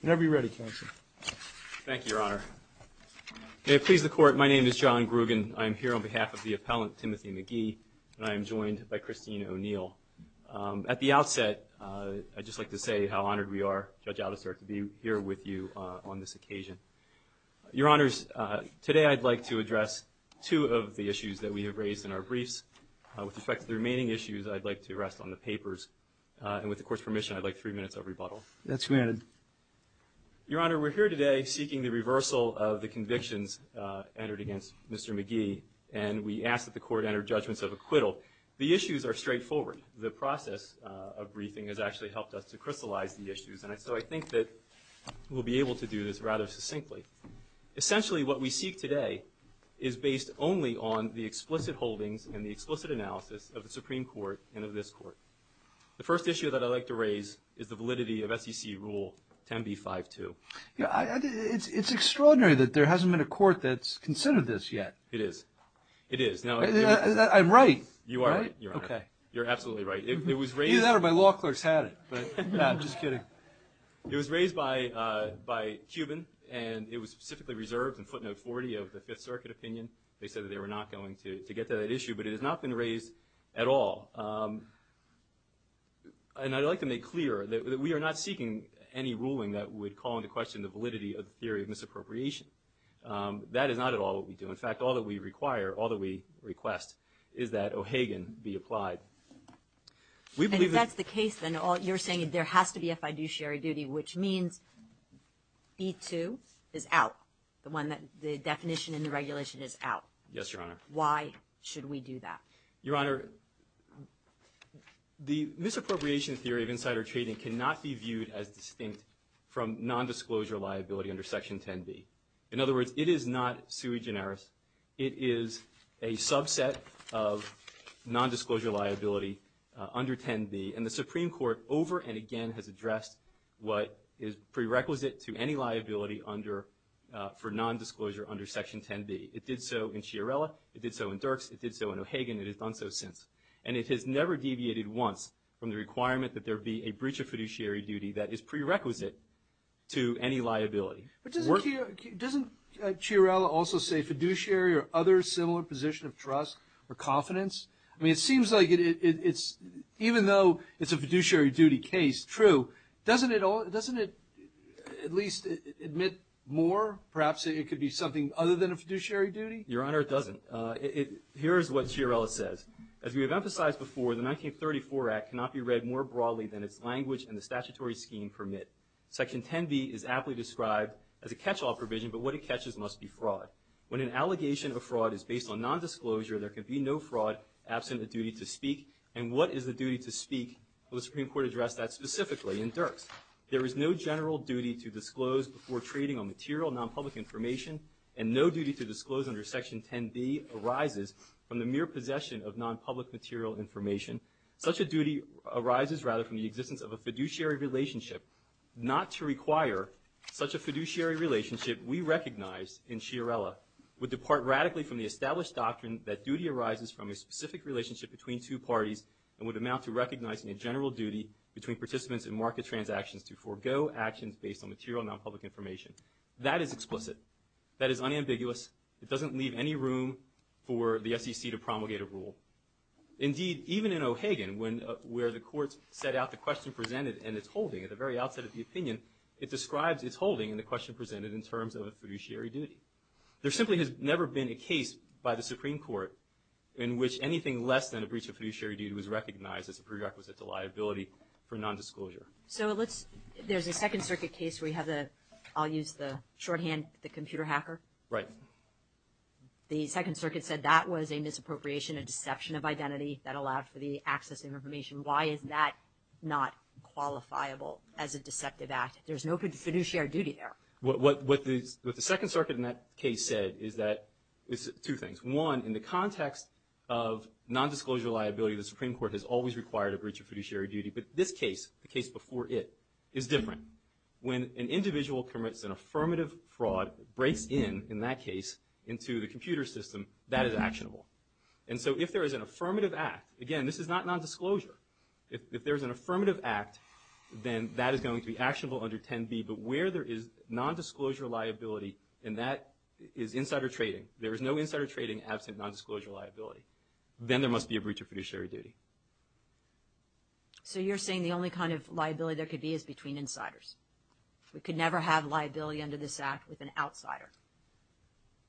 Whenever you're ready, Counselor.Thank you, Your Honor. May it please the Court, my name is John Grugin. I am here on behalf of the appellant, Timothy McGee, and I am joined by Christine O'Neill. At the outset, I'd just like to say how honored we are, Judge Aldister, to be here with you on this occasion. Your Honors, today I'd like to address two of the issues that we have raised in our briefs. With respect to the remaining issues, I'd like to rest on the papers, and with the Court's permission, I'd like three minutes of rebuttal. That's granted. Your Honor, we're here today seeking the reversal of the convictions entered against Mr. McGee, and we ask that the Court enter judgments of acquittal. The issues are straightforward. The process of briefing has actually helped us to crystallize the issues, and so I think that we'll be able to do this rather succinctly. Essentially, what we seek today is based only on the explicit holdings and the explicit analysis of the Supreme Court and of this Court. The first issue that I'd like to raise is the validity of SEC Rule 10b-5-2. It's extraordinary that there hasn't been a court that's considered this yet. It is. It is. I'm right. You are right, Your Honor. Okay. You're absolutely right. Either that or my law clerk's had it, but I'm just kidding. It was raised by Cuban, and it was specifically reserved in footnote 40 of the Fifth Circuit opinion. They said that they were not going to get to that issue, but it has not been raised at all. And I'd like to make clear that we are not seeking any ruling that would call into question the validity of the theory of misappropriation. That is not at all what we do. In fact, all that we require, all that we request, is that O'Hagan be applied. And if that's the case, then you're saying there has to be a fiduciary duty, which means B-2 is out, the definition in the regulation is out. Yes, Your Honor. Why should we do that? Your Honor, the misappropriation theory of insider trading cannot be viewed as distinct from nondisclosure liability under Section 10b. In other words, it is not sui generis. It is a subset of nondisclosure liability under 10b, and the Supreme Court over and again has addressed what is prerequisite to any liability for nondisclosure under Section 10b. It did so in Chiarella. It did so in Dirks. It did so in O'Hagan. It has done so since. And it has never deviated once from the requirement that there be a breach of fiduciary duty that is prerequisite to any liability. But doesn't Chiarella also say fiduciary or other similar position of trust or confidence? I mean, it seems like it's, even though it's a fiduciary duty case, true, doesn't it at least admit more? Perhaps it could be something other than a fiduciary duty? Your Honor, it doesn't. Here is what Chiarella says. As we have emphasized before, the 1934 Act cannot be read more broadly than its language and the statutory scheme permit. Section 10b is aptly described as a catch-all provision, but what it catches must be fraud. When an allegation of fraud is based on nondisclosure, there can be no fraud absent a duty to speak. And what is the duty to speak? Well, the Supreme Court addressed that specifically in Dirks. There is no general duty to disclose before trading on material, nonpublic information, and no duty to disclose under Section 10b arises from the mere possession of nonpublic material information. Such a duty arises, rather, from the existence of a fiduciary relationship. Not to require such a fiduciary relationship, we recognize in Chiarella, would depart radically from the established doctrine that duty arises from a specific relationship between two parties and would amount to recognizing a general duty between participants in market transactions to forego actions based on material, nonpublic information. That is explicit. That is unambiguous. Indeed, even in O'Hagan, where the courts set out the question presented and its holding, at the very outset of the opinion, it describes its holding in the question presented in terms of a fiduciary duty. There simply has never been a case by the Supreme Court in which anything less than a breach of fiduciary duty was recognized as a prerequisite to liability for nondisclosure. So let's, there's a Second Circuit case where you have the, I'll use the shorthand, the computer hacker? Right. The Second Circuit said that was a misappropriation, a deception of identity that allowed for the access of information. Why is that not qualifiable as a deceptive act? There's no fiduciary duty there. What the Second Circuit in that case said is that, is two things. One, in the context of nondisclosure liability, the Supreme Court has always required a breach of fiduciary duty. But this case, the case before it, is different. When an individual commits an affirmative fraud, breaks in, in that case, into the computer system, that is actionable. And so if there is an affirmative act, again, this is not nondisclosure, if there is an affirmative act, then that is going to be actionable under 10B. But where there is nondisclosure liability, and that is insider trading, there is no insider trading absent nondisclosure liability, then there must be a breach of fiduciary duty. So you're saying the only kind of liability there could be is between insiders. We could never have liability under this act with an outsider.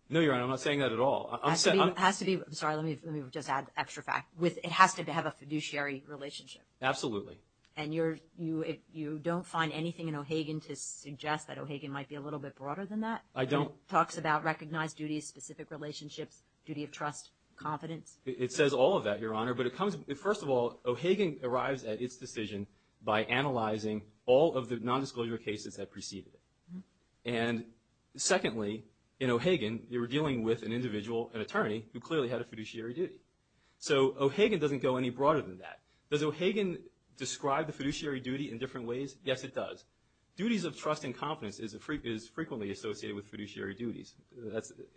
No, Your Honor, I'm not saying that at all. It has to be, I'm sorry, let me just add extra fact, it has to have a fiduciary relationship. Absolutely. And you don't find anything in O'Hagan to suggest that O'Hagan might be a little bit broader than that? I don't. It talks about recognized duties, specific relationships, duty of trust, confidence? It says all of that, Your Honor, but it comes, first of all, O'Hagan arrives at its decision by analyzing all of the nondisclosure cases that preceded it. And secondly, in O'Hagan, you were dealing with an individual, an attorney, who clearly had a fiduciary duty. So O'Hagan doesn't go any broader than that. Does O'Hagan describe the fiduciary duty in different ways? Yes, it does. Duties of trust and confidence is frequently associated with fiduciary duties.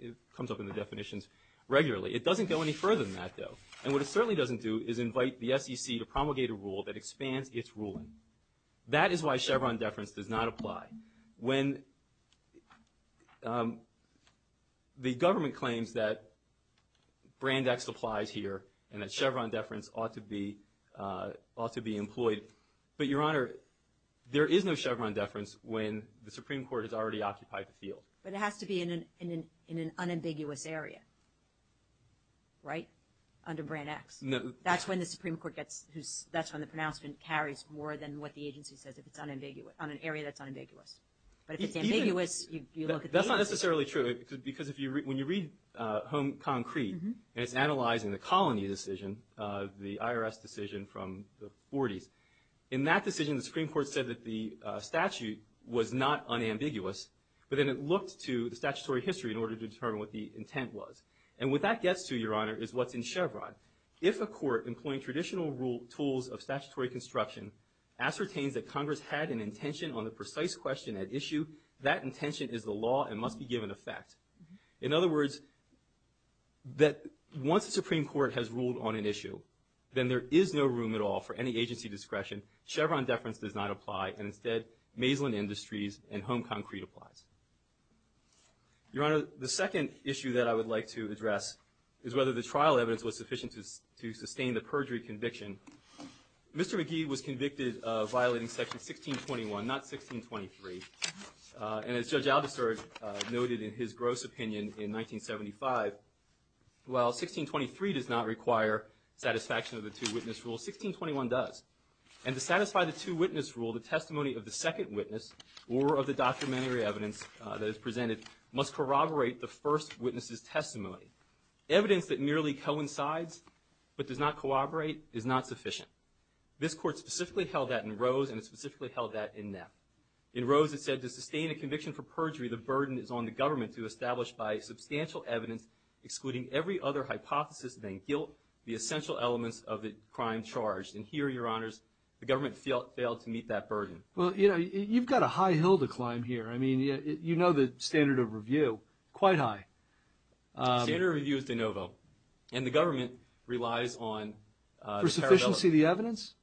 It comes up in the definitions regularly. It doesn't go any further than that, though. And what it certainly doesn't do is invite the SEC to promulgate a rule that expands its ruling. That is why Chevron deference does not apply. When the government claims that Brand X applies here and that Chevron deference ought to be employed, but Your Honor, there is no Chevron deference when the Supreme Court has already occupied the field. But it has to be in an unambiguous area, right? Under Brand X? No. That's when the Supreme Court gets, that's when the pronouncement carries more than what the agency says if it's unambiguous, on an area that's unambiguous. But if it's ambiguous, you look at the agency. That's not necessarily true because when you read Home Concrete and it's analyzing the colony decision, the IRS decision from the 40s, in that decision the Supreme Court said that the statute was not unambiguous, but then it looked to the statutory history in order to determine what the intent was. And what that gets to, Your Honor, is what's in Chevron. If a court employing traditional tools of statutory construction ascertains that Congress had an intention on the precise question at issue, that intention is the law and must be given effect. In other words, that once the Supreme Court has ruled on an issue, then there is no room at all for any agency discretion. Chevron deference does not apply, and instead, Maislin Industries and Home Concrete applies. Your Honor, the second issue that I would like to address is whether the trial evidence was sufficient to sustain the perjury conviction. Mr. McGee was convicted of violating Section 1621, not 1623, and as Judge Aldister noted in his gross opinion in 1975, while 1623 does not require satisfaction of the two-witness rule, 1621 does. And to satisfy the two-witness rule, the testimony of the second witness or of the documentary evidence that is presented must corroborate the first witness' testimony. Evidence that merely coincides but does not corroborate is not sufficient. This Court specifically held that in Rose and it specifically held that in Knapp. In Rose, it said, to sustain a conviction for perjury, the burden is on the government to establish by substantial evidence, excluding every other hypothesis than guilt, the essential elements of the crime charged. And here, Your Honors, the government failed to meet that burden. Well, you know, you've got a high hill to climb here. I mean, you know the standard of review, quite high. The standard of review is de novo, and the government relies on the parallelism. For sufficiency of the evidence?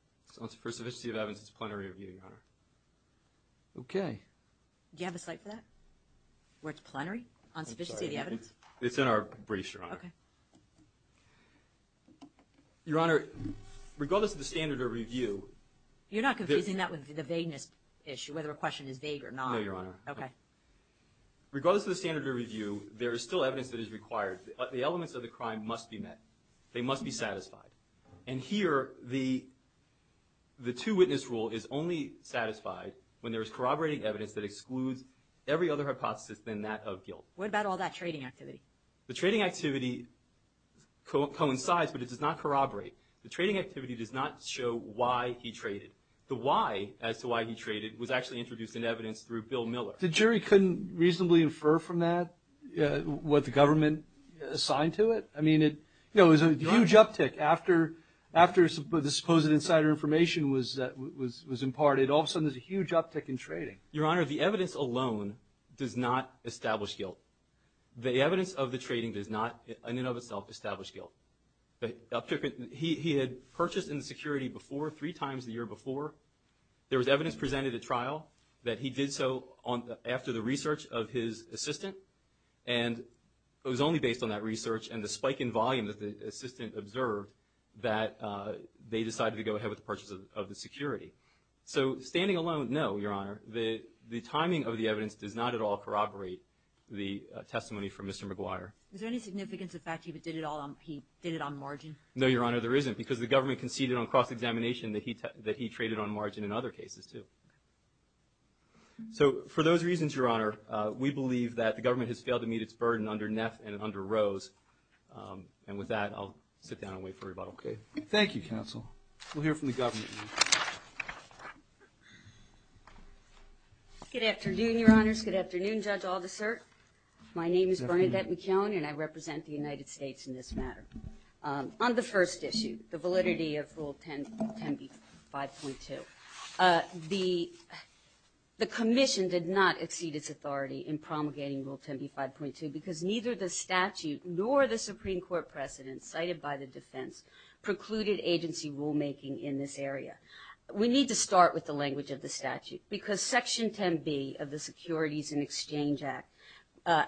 For sufficiency of the evidence, it's plenary review, Your Honor. Okay. Do you have a site for that? Where it's plenary? On sufficiency of the evidence? I'm sorry, it's in our briefs, Your Honor. Okay. Your Honor, regardless of the standard of review, You're not confusing that with the vagueness issue, whether a question is vague or not. No, Your Honor. Okay. Regardless of the standard of review, there is still evidence that is required. The elements of the crime must be met. They must be satisfied. And here, the two-witness rule is only satisfied when there is corroborating evidence that excludes every other hypothesis than that of guilt. What about all that trading activity? The trading activity coincides, but it does not corroborate. The trading activity does not show why he traded. The why as to why he traded was actually introduced in evidence through Bill Miller. The jury couldn't reasonably infer from that what the government assigned to it? I mean, it was a huge uptick after the supposed insider information was imparted. All of a sudden, there's a huge uptick in trading. Your Honor, the evidence alone does not establish guilt. The evidence of the trading does not, in and of itself, establish guilt. He had purchased in the security before, three times the year before. There was evidence presented at trial that he did so after the research of his assistant, and it was only based on that research and the spike in volume that the assistant observed that they decided to go ahead with the purchase of the security. So standing alone, no, Your Honor. The timing of the evidence does not at all corroborate the testimony from Mr. McGuire. Is there any significance of the fact that he did it on margin? No, Your Honor, there isn't, because the government conceded on cross-examination that he traded on margin in other cases, too. So for those reasons, Your Honor, we believe that the government has failed to meet its burden under Neff and under Rose. And with that, I'll sit down and wait for rebuttal. Okay. Thank you, counsel. We'll hear from the government. Good afternoon, Your Honors. Good afternoon, Judge Aldous Sirk. My name is Bernadette McKeown, and I represent the United States in this matter. On the first issue, the validity of Rule 10B 5.2, the commission did not exceed its authority in promulgating Rule 10B 5.2 because neither the statute nor the Supreme Court precedent cited by the defense precluded agency rulemaking in this area. We need to start with the language of the statute, because Section 10B of the Securities and Exchange Act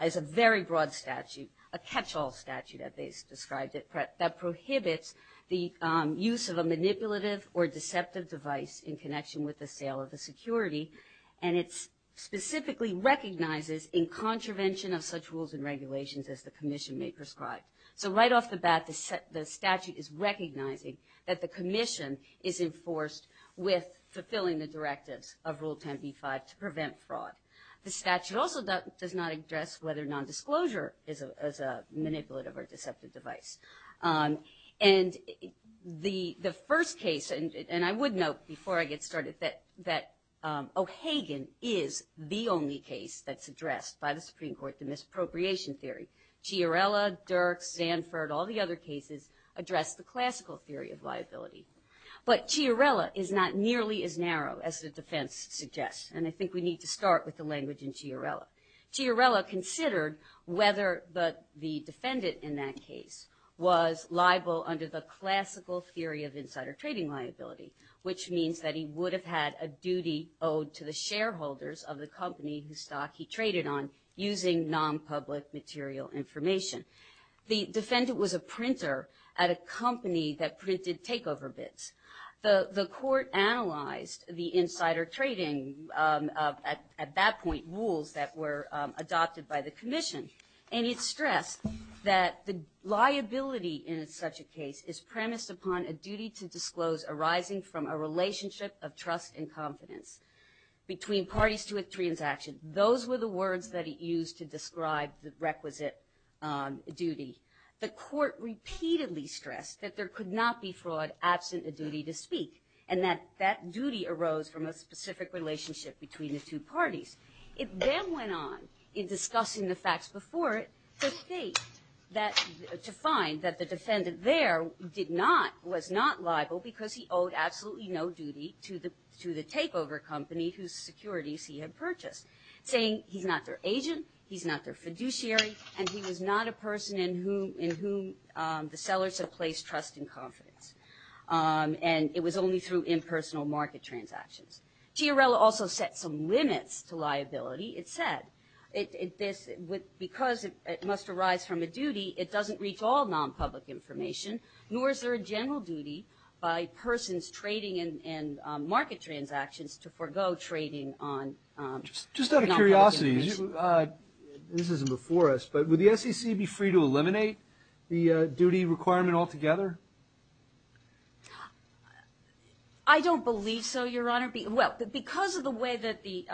is a very broad statute, a catch-all statute, as they described it, that prohibits the use of a manipulative or deceptive device in connection with the sale of the security, and it specifically recognizes in contravention of such rules and regulations as the commission may prescribe. So right off the bat, the statute is recognizing that the commission is enforced with fulfilling the directives of Rule 10B 5 to prevent fraud. The statute also does not address whether nondisclosure is a manipulative or deceptive device. And the first case, and I would note before I get started that O'Hagan is the only case that's addressed by the Supreme Court, the misappropriation theory. Chiarella, Dirks, Zanford, all the other cases address the classical theory of liability. But Chiarella is not nearly as narrow as the defense suggests, and I think we need to start with the language in Chiarella. Chiarella considered whether the defendant in that case was liable under the classical theory of insider trading liability, which means that he would have had a duty owed to the shareholders of the company whose stock he traded on using nonpublic material information. The defendant was a printer at a company that printed takeover bids. The court analyzed the insider trading at that point rules that were adopted by the commission, and it stressed that the liability in such a case is premised upon a duty to disclose arising from a relationship of trust and confidence between parties to a transaction. Those were the words that it used to describe the requisite duty. The court repeatedly stressed that there could not be fraud absent a duty to speak, and that that duty arose from a specific relationship between the two parties. It then went on, in discussing the facts before it, to state that to find that the defendant there did not, was not liable because he owed absolutely no duty to the takeover company whose securities he had purchased, saying he's not their agent, he's not their fiduciary, and he was not a person in whom the sellers had placed trust and confidence, and it was only through impersonal market transactions. Chiarella also set some limits to liability. It said, because it must arise from a duty, it doesn't reach all non-public information, nor is there a general duty by persons trading in market transactions to forego trading on non-public information. Just out of curiosity, this isn't before us, but would the SEC be free to eliminate the duty requirement altogether? I don't believe so, Your Honor. Well, because of the way that the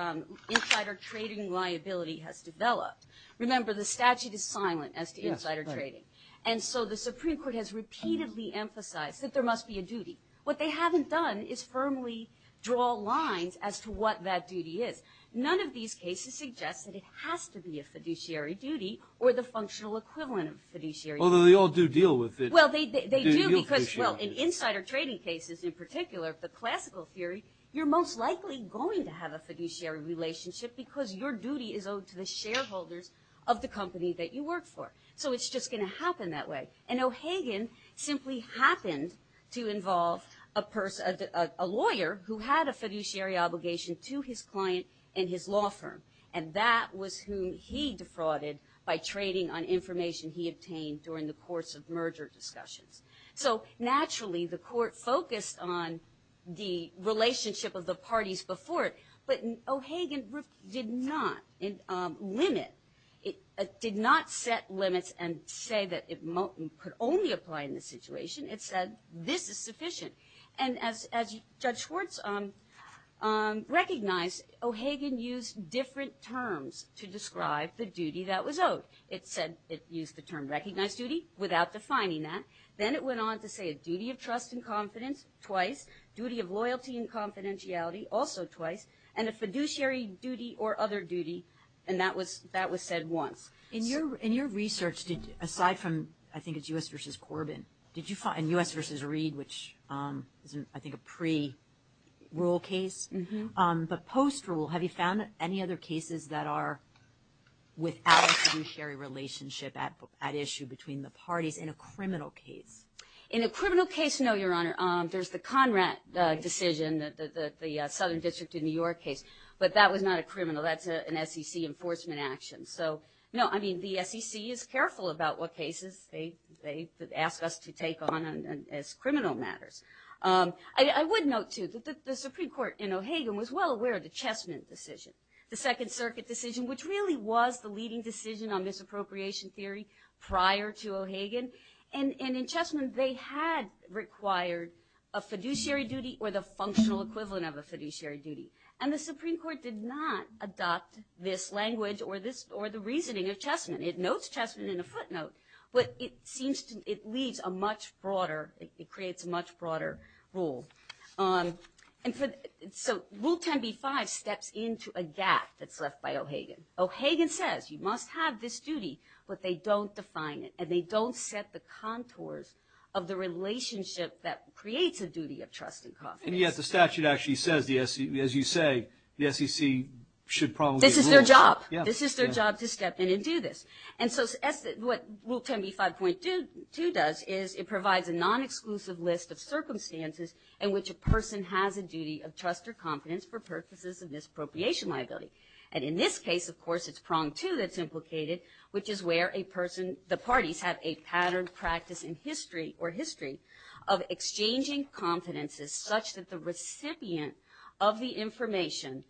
insider trading liability has developed, remember the statute is silent as to insider trading, and so the Supreme Court has repeatedly emphasized that there must be a duty. What they haven't done is firmly draw lines as to what that duty is. None of these cases suggest that it has to be a fiduciary duty or the functional equivalent of a fiduciary duty. Although they all do deal with it. Well, they do because, well, in insider trading cases in particular, the classical theory, you're most likely going to have a fiduciary relationship because your duty is owed to the shareholders of the company that you work for. So it's just going to happen that way. And O'Hagan simply happened to involve a lawyer who had a fiduciary obligation to his client and his law firm, and that was whom he defrauded by trading on information he obtained during the course of merger discussions. So naturally, the court focused on the relationship of the parties before it, but O'Hagan did not limit, did not set limits and say that it could only apply in this situation, it said this is sufficient. And as Judge Schwartz recognized, O'Hagan used different terms to describe the duty that was owed. It said, it used the term recognized duty without defining that. Then it went on to say a duty of trust and confidence twice, duty of loyalty and confidentiality also twice, and a fiduciary duty or other duty. And that was said once. In your research, aside from, I think it's U.S. versus Corbyn, and U.S. versus Reed, which is, I think, a pre-rule case, but post-rule, have you found any other cases that are without a fiduciary relationship at issue between the parties in a criminal case? In a criminal case, no, Your Honor. There's the Conrad decision, the Southern District in New York case, but that was not a criminal, that's an SEC enforcement action. So, no, I mean, the SEC is careful about what cases they ask us to take on as criminal matters. I would note, too, that the Supreme Court in O'Hagan was well aware of the Chessman decision. The Second Circuit decision, which really was the leading decision on misappropriation theory prior to O'Hagan. And in Chessman, they had required a fiduciary duty or the functional equivalent of a fiduciary duty. And the Supreme Court did not adopt this language or the reasoning of Chessman. It notes Chessman in a footnote, but it seems to, it leaves a much broader, it creates a much broader rule. And so, Rule 10b-5 steps into a gap that's left by O'Hagan. O'Hagan says, you must have this duty, but they don't define it, and they don't set the contours of the relationship that creates a duty of trust and confidence. And yet, the statute actually says, as you say, the SEC should probably rule. This is their job. Yeah. This is their job to step in and do this. And so, what Rule 10b-5.2 does is it provides a non-exclusive list of circumstances in which a person has a duty of trust or confidence for purposes of this appropriation liability. And in this case, of course, it's prong two that's implicated, which is where a person, the parties have a pattern practice in history or history of exchanging confidences such that the recipient of the information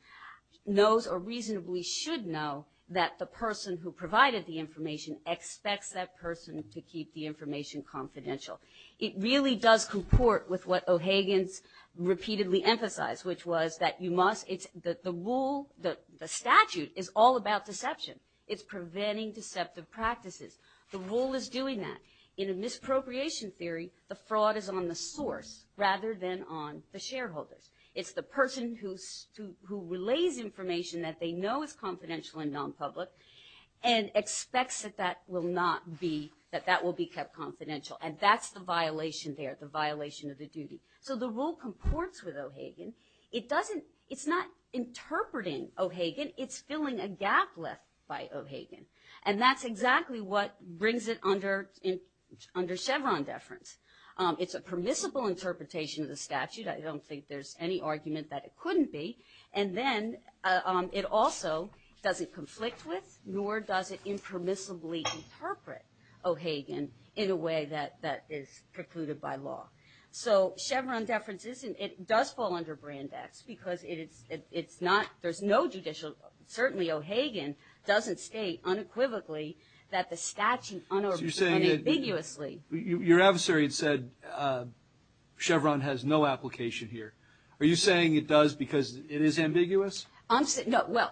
knows or reasonably should know that the person who provided the information expects that person to keep the information confidential. It really does comport with what O'Hagan's repeatedly emphasized, which was that you must, the rule, the statute is all about deception. It's preventing deceptive practices. The rule is doing that. In a misappropriation theory, the fraud is on the source rather than on the shareholders. It's the person who relays information that they know is confidential and non-public and expects that that will not be, that that will be kept confidential. And that's the violation there, the violation of the duty. So the rule comports with O'Hagan. It doesn't, it's not interpreting O'Hagan, it's filling a gap left by O'Hagan. And that's exactly what brings it under Chevron deference. It's a permissible interpretation of the statute. I don't think there's any argument that it couldn't be. And then it also doesn't conflict with nor does it impermissibly interpret O'Hagan in a way that is precluded by law. So Chevron deference doesn't, it does fall under Brand X because it's not, there's no judicial, certainly O'Hagan doesn't state unequivocally that the statute unambiguously. Your adversary said Chevron has no application here. Are you saying it does because it is ambiguous? I'm saying, no, well,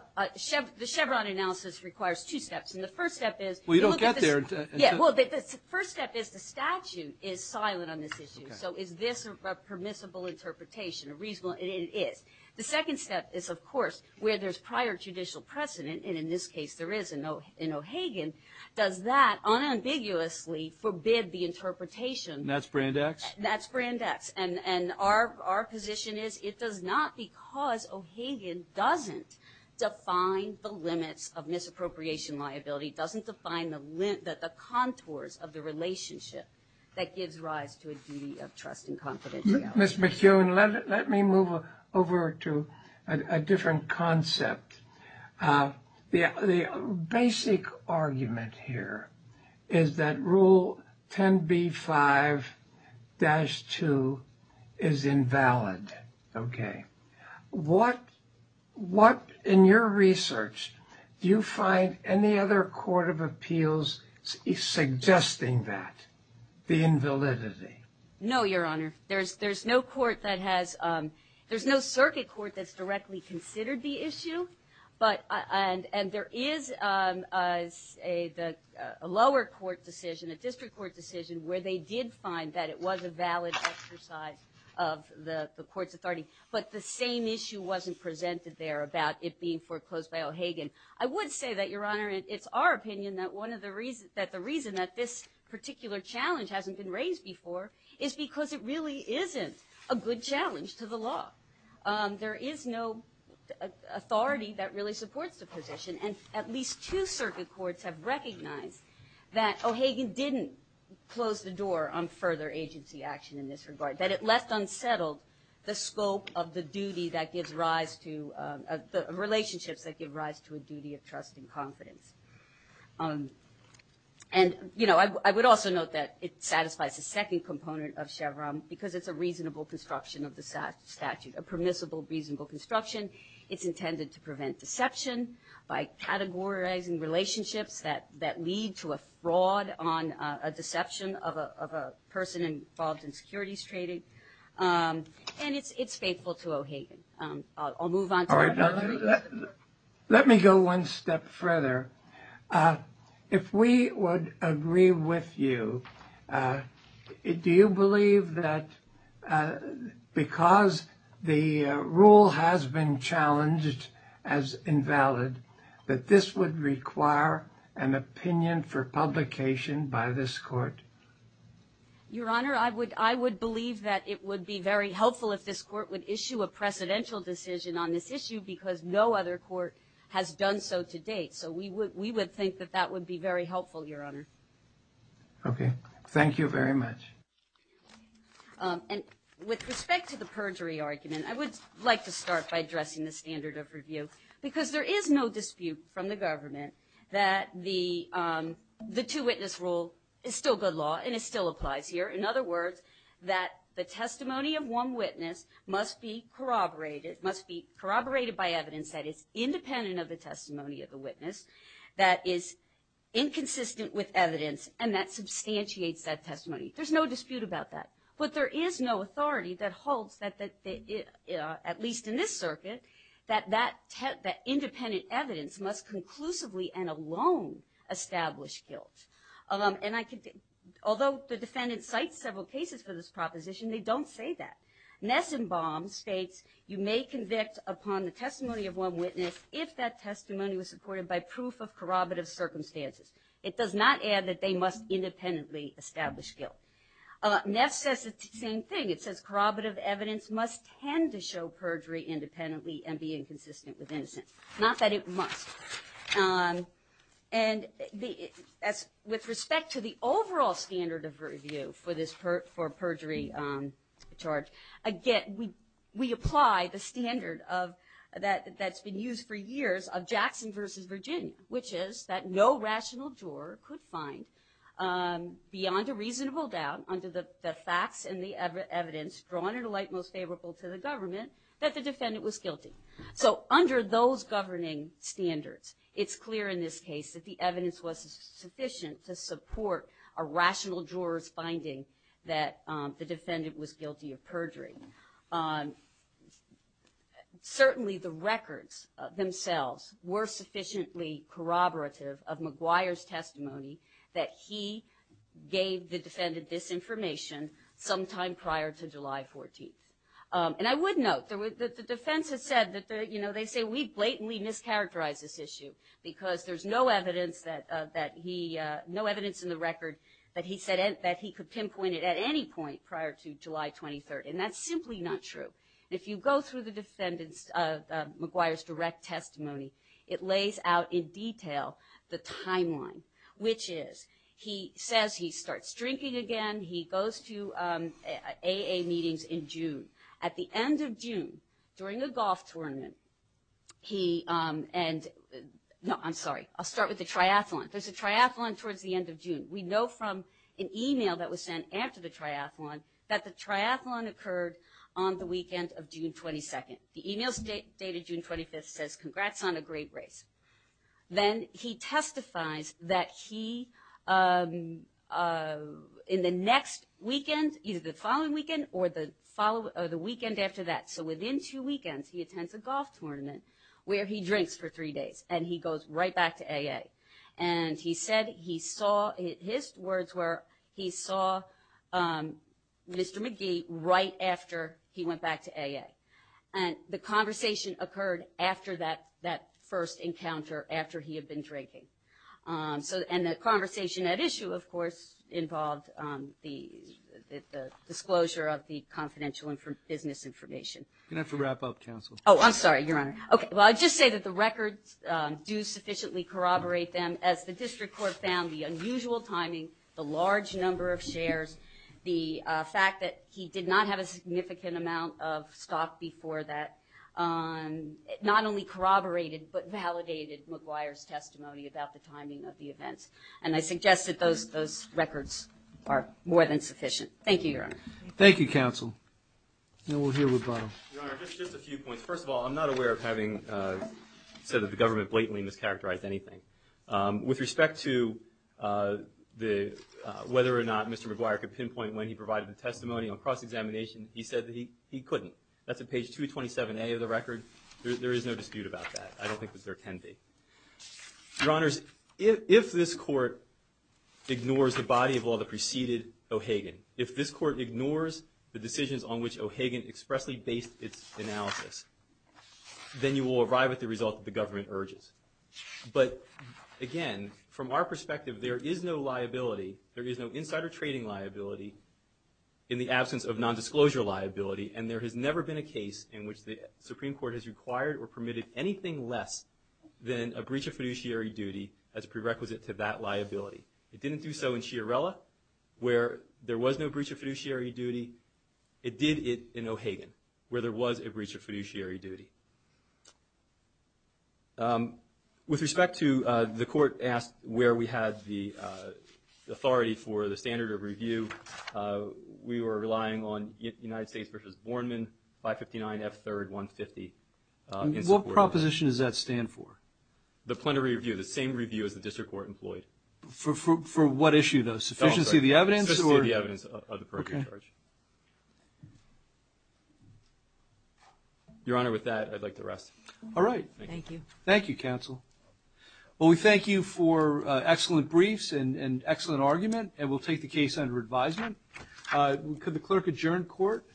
the Chevron analysis requires two steps. And the first step is. Well, you don't get there until. Yeah, well, the first step is the statute is silent on this issue. So is this a permissible interpretation, a reasonable, it is. The second step is, of course, where there's prior judicial precedent. And in this case, there is in O'Hagan. Does that unambiguously forbid the interpretation. And that's Brand X? That's Brand X. And our position is it does not because O'Hagan doesn't define the limits of misappropriation liability, doesn't define the contours of the relationship that gives rise to a duty of trust and confidentiality. Ms. McEwen, let me move over to a different concept. The basic argument here is that Rule 10b-5-2 is invalid, okay? What, in your research, do you find any other court of appeals suggesting that, the invalidity? No, Your Honor. There's no court that has, there's no circuit court that's directly considered the issue. But, and there is a lower court decision, a district court decision, where they did find that it was a valid exercise of the court's authority. But the same issue wasn't presented there about it being foreclosed by O'Hagan. I would say that, Your Honor, it's our opinion that one of the reasons, that the reason that this particular challenge hasn't been raised before is because it really isn't a good challenge to the law. There is no authority that really supports the position. And at least two circuit courts have recognized that O'Hagan didn't close the door on further agency action in this regard. That it left unsettled the scope of the duty that gives rise to, the relationships that give rise to a duty of trust and confidence. And I would also note that it satisfies the second component of Chevron because it's a reasonable construction of the statute, a permissible, reasonable construction. It's intended to prevent deception by categorizing relationships that lead to a fraud on a deception of a person involved in securities trading. And it's faithful to O'Hagan. I'll move on to- All right, let me go one step further. If we would agree with you, do you believe that because the rule has been challenged as invalid, that this would require an opinion for publication by this court? Your Honor, I would believe that it would be very helpful if this court would issue a precedential decision on this issue because no other court has done so to date. So we would think that that would be very helpful, Your Honor. Okay, thank you very much. And with respect to the perjury argument, I would like to start by addressing the standard of review. Because there is no dispute from the government that the two-witness rule is still good law and it still applies here. In other words, that the testimony of one witness must be corroborated, must be corroborated by evidence that is independent of the testimony of the witness, that is inconsistent with evidence, and that substantiates that testimony. There's no dispute about that. But there is no authority that holds that, at least in this circuit, that independent evidence must conclusively and alone establish guilt. Although the defendant cites several cases for this proposition, they don't say that. Nessenbaum states, you may convict upon the testimony of one witness if that testimony was supported by proof of corroborative circumstances. It does not add that they must independently establish guilt. Ness says the same thing. It says corroborative evidence must tend to show perjury independently and be inconsistent with innocence. Not that it must. And with respect to the overall standard of review for this perjury charge, again, we apply the standard that's been used for years of Jackson versus Virginia, which is that no rational juror could find beyond a reasonable doubt under the facts and the evidence drawn in a light most favorable to the government that the defendant was guilty. So under those governing standards, it's clear in this case that the evidence was sufficient to support a rational juror's finding that the defendant was guilty of perjury. Certainly the records themselves were sufficiently corroborative of McGuire's testimony that he gave the defendant this information sometime prior to July 14th. And I would note that the defense has said that, you know, they say we blatantly mischaracterized this issue because there's no evidence that he, no evidence in the record that he said that he could pinpoint it at any point prior to July 23rd. And that's simply not true. If you go through the defendant's, McGuire's direct testimony, it lays out in detail the timeline, which is, he says he starts drinking again, he goes to AA meetings in June. At the end of June, during a golf tournament, he, and, no, I'm sorry, I'll start with the triathlon. There's a triathlon towards the end of June. We know from an email that was sent after the triathlon that the triathlon occurred on the weekend of June 22nd. The email's dated June 25th, says, congrats on a great race. Then he testifies that he, in the next weekend, either the following weekend or the following, or the weekend after that, so within two weekends, he attends a golf tournament where he drinks for three days and he goes right back to AA. And he said he saw, his words were, he saw Mr. McGee right after he went back to AA. And the conversation occurred after that first encounter, after he had been drinking. So, and the conversation at issue, of course, involved the disclosure of the confidential business information. You're going to have to wrap up, counsel. Oh, I'm sorry, Your Honor. Okay, well, I'll just say that the records do sufficiently corroborate them. As the district court found, the unusual timing, the large number of shares, the fact that he did not have a significant amount of stock before that, not only corroborated, but validated McGuire's testimony about the timing of the events. And I suggest that those records are more than sufficient. Thank you, Your Honor. Thank you, counsel. And we'll hear with Bob. Your Honor, just a few points. First of all, I'm not aware of having said that the government blatantly mischaracterized anything. With respect to whether or not Mr. McGuire could pinpoint when he provided the testimony on cross-examination, he said that he couldn't. That's at page 227A of the record. There is no dispute about that. I don't think that there can be. Your Honors, if this court ignores the body of law that preceded O'Hagan, if this court ignores the decisions on which O'Hagan expressly based its analysis, then you will arrive at the result that the government urges. But again, from our perspective, there is no liability, there is no insider trading liability in the absence of non-disclosure liability. And there has never been a case in which the Supreme Court has required or permitted anything less than a breach of fiduciary duty as prerequisite to that liability. It didn't do so in Chiarella, where there was no breach of fiduciary duty. It did it in O'Hagan, where there was a breach of fiduciary duty. With respect to the court asked where we had the authority for the standard of review, we were relying on United States v. Borman, 559 F3rd 150 in support of that. What proposition does that stand for? The plenary review, the same review as the district court employed. For what issue, though? Sufficiency of the evidence, or? Sufficiency of the evidence of the perjury charge. Your Honor, with that, I'd like to rest. All right. Thank you. Thank you, counsel. Well, we thank you for excellent briefs and excellent argument. And we'll take the case under advisement. Could the clerk adjourn court?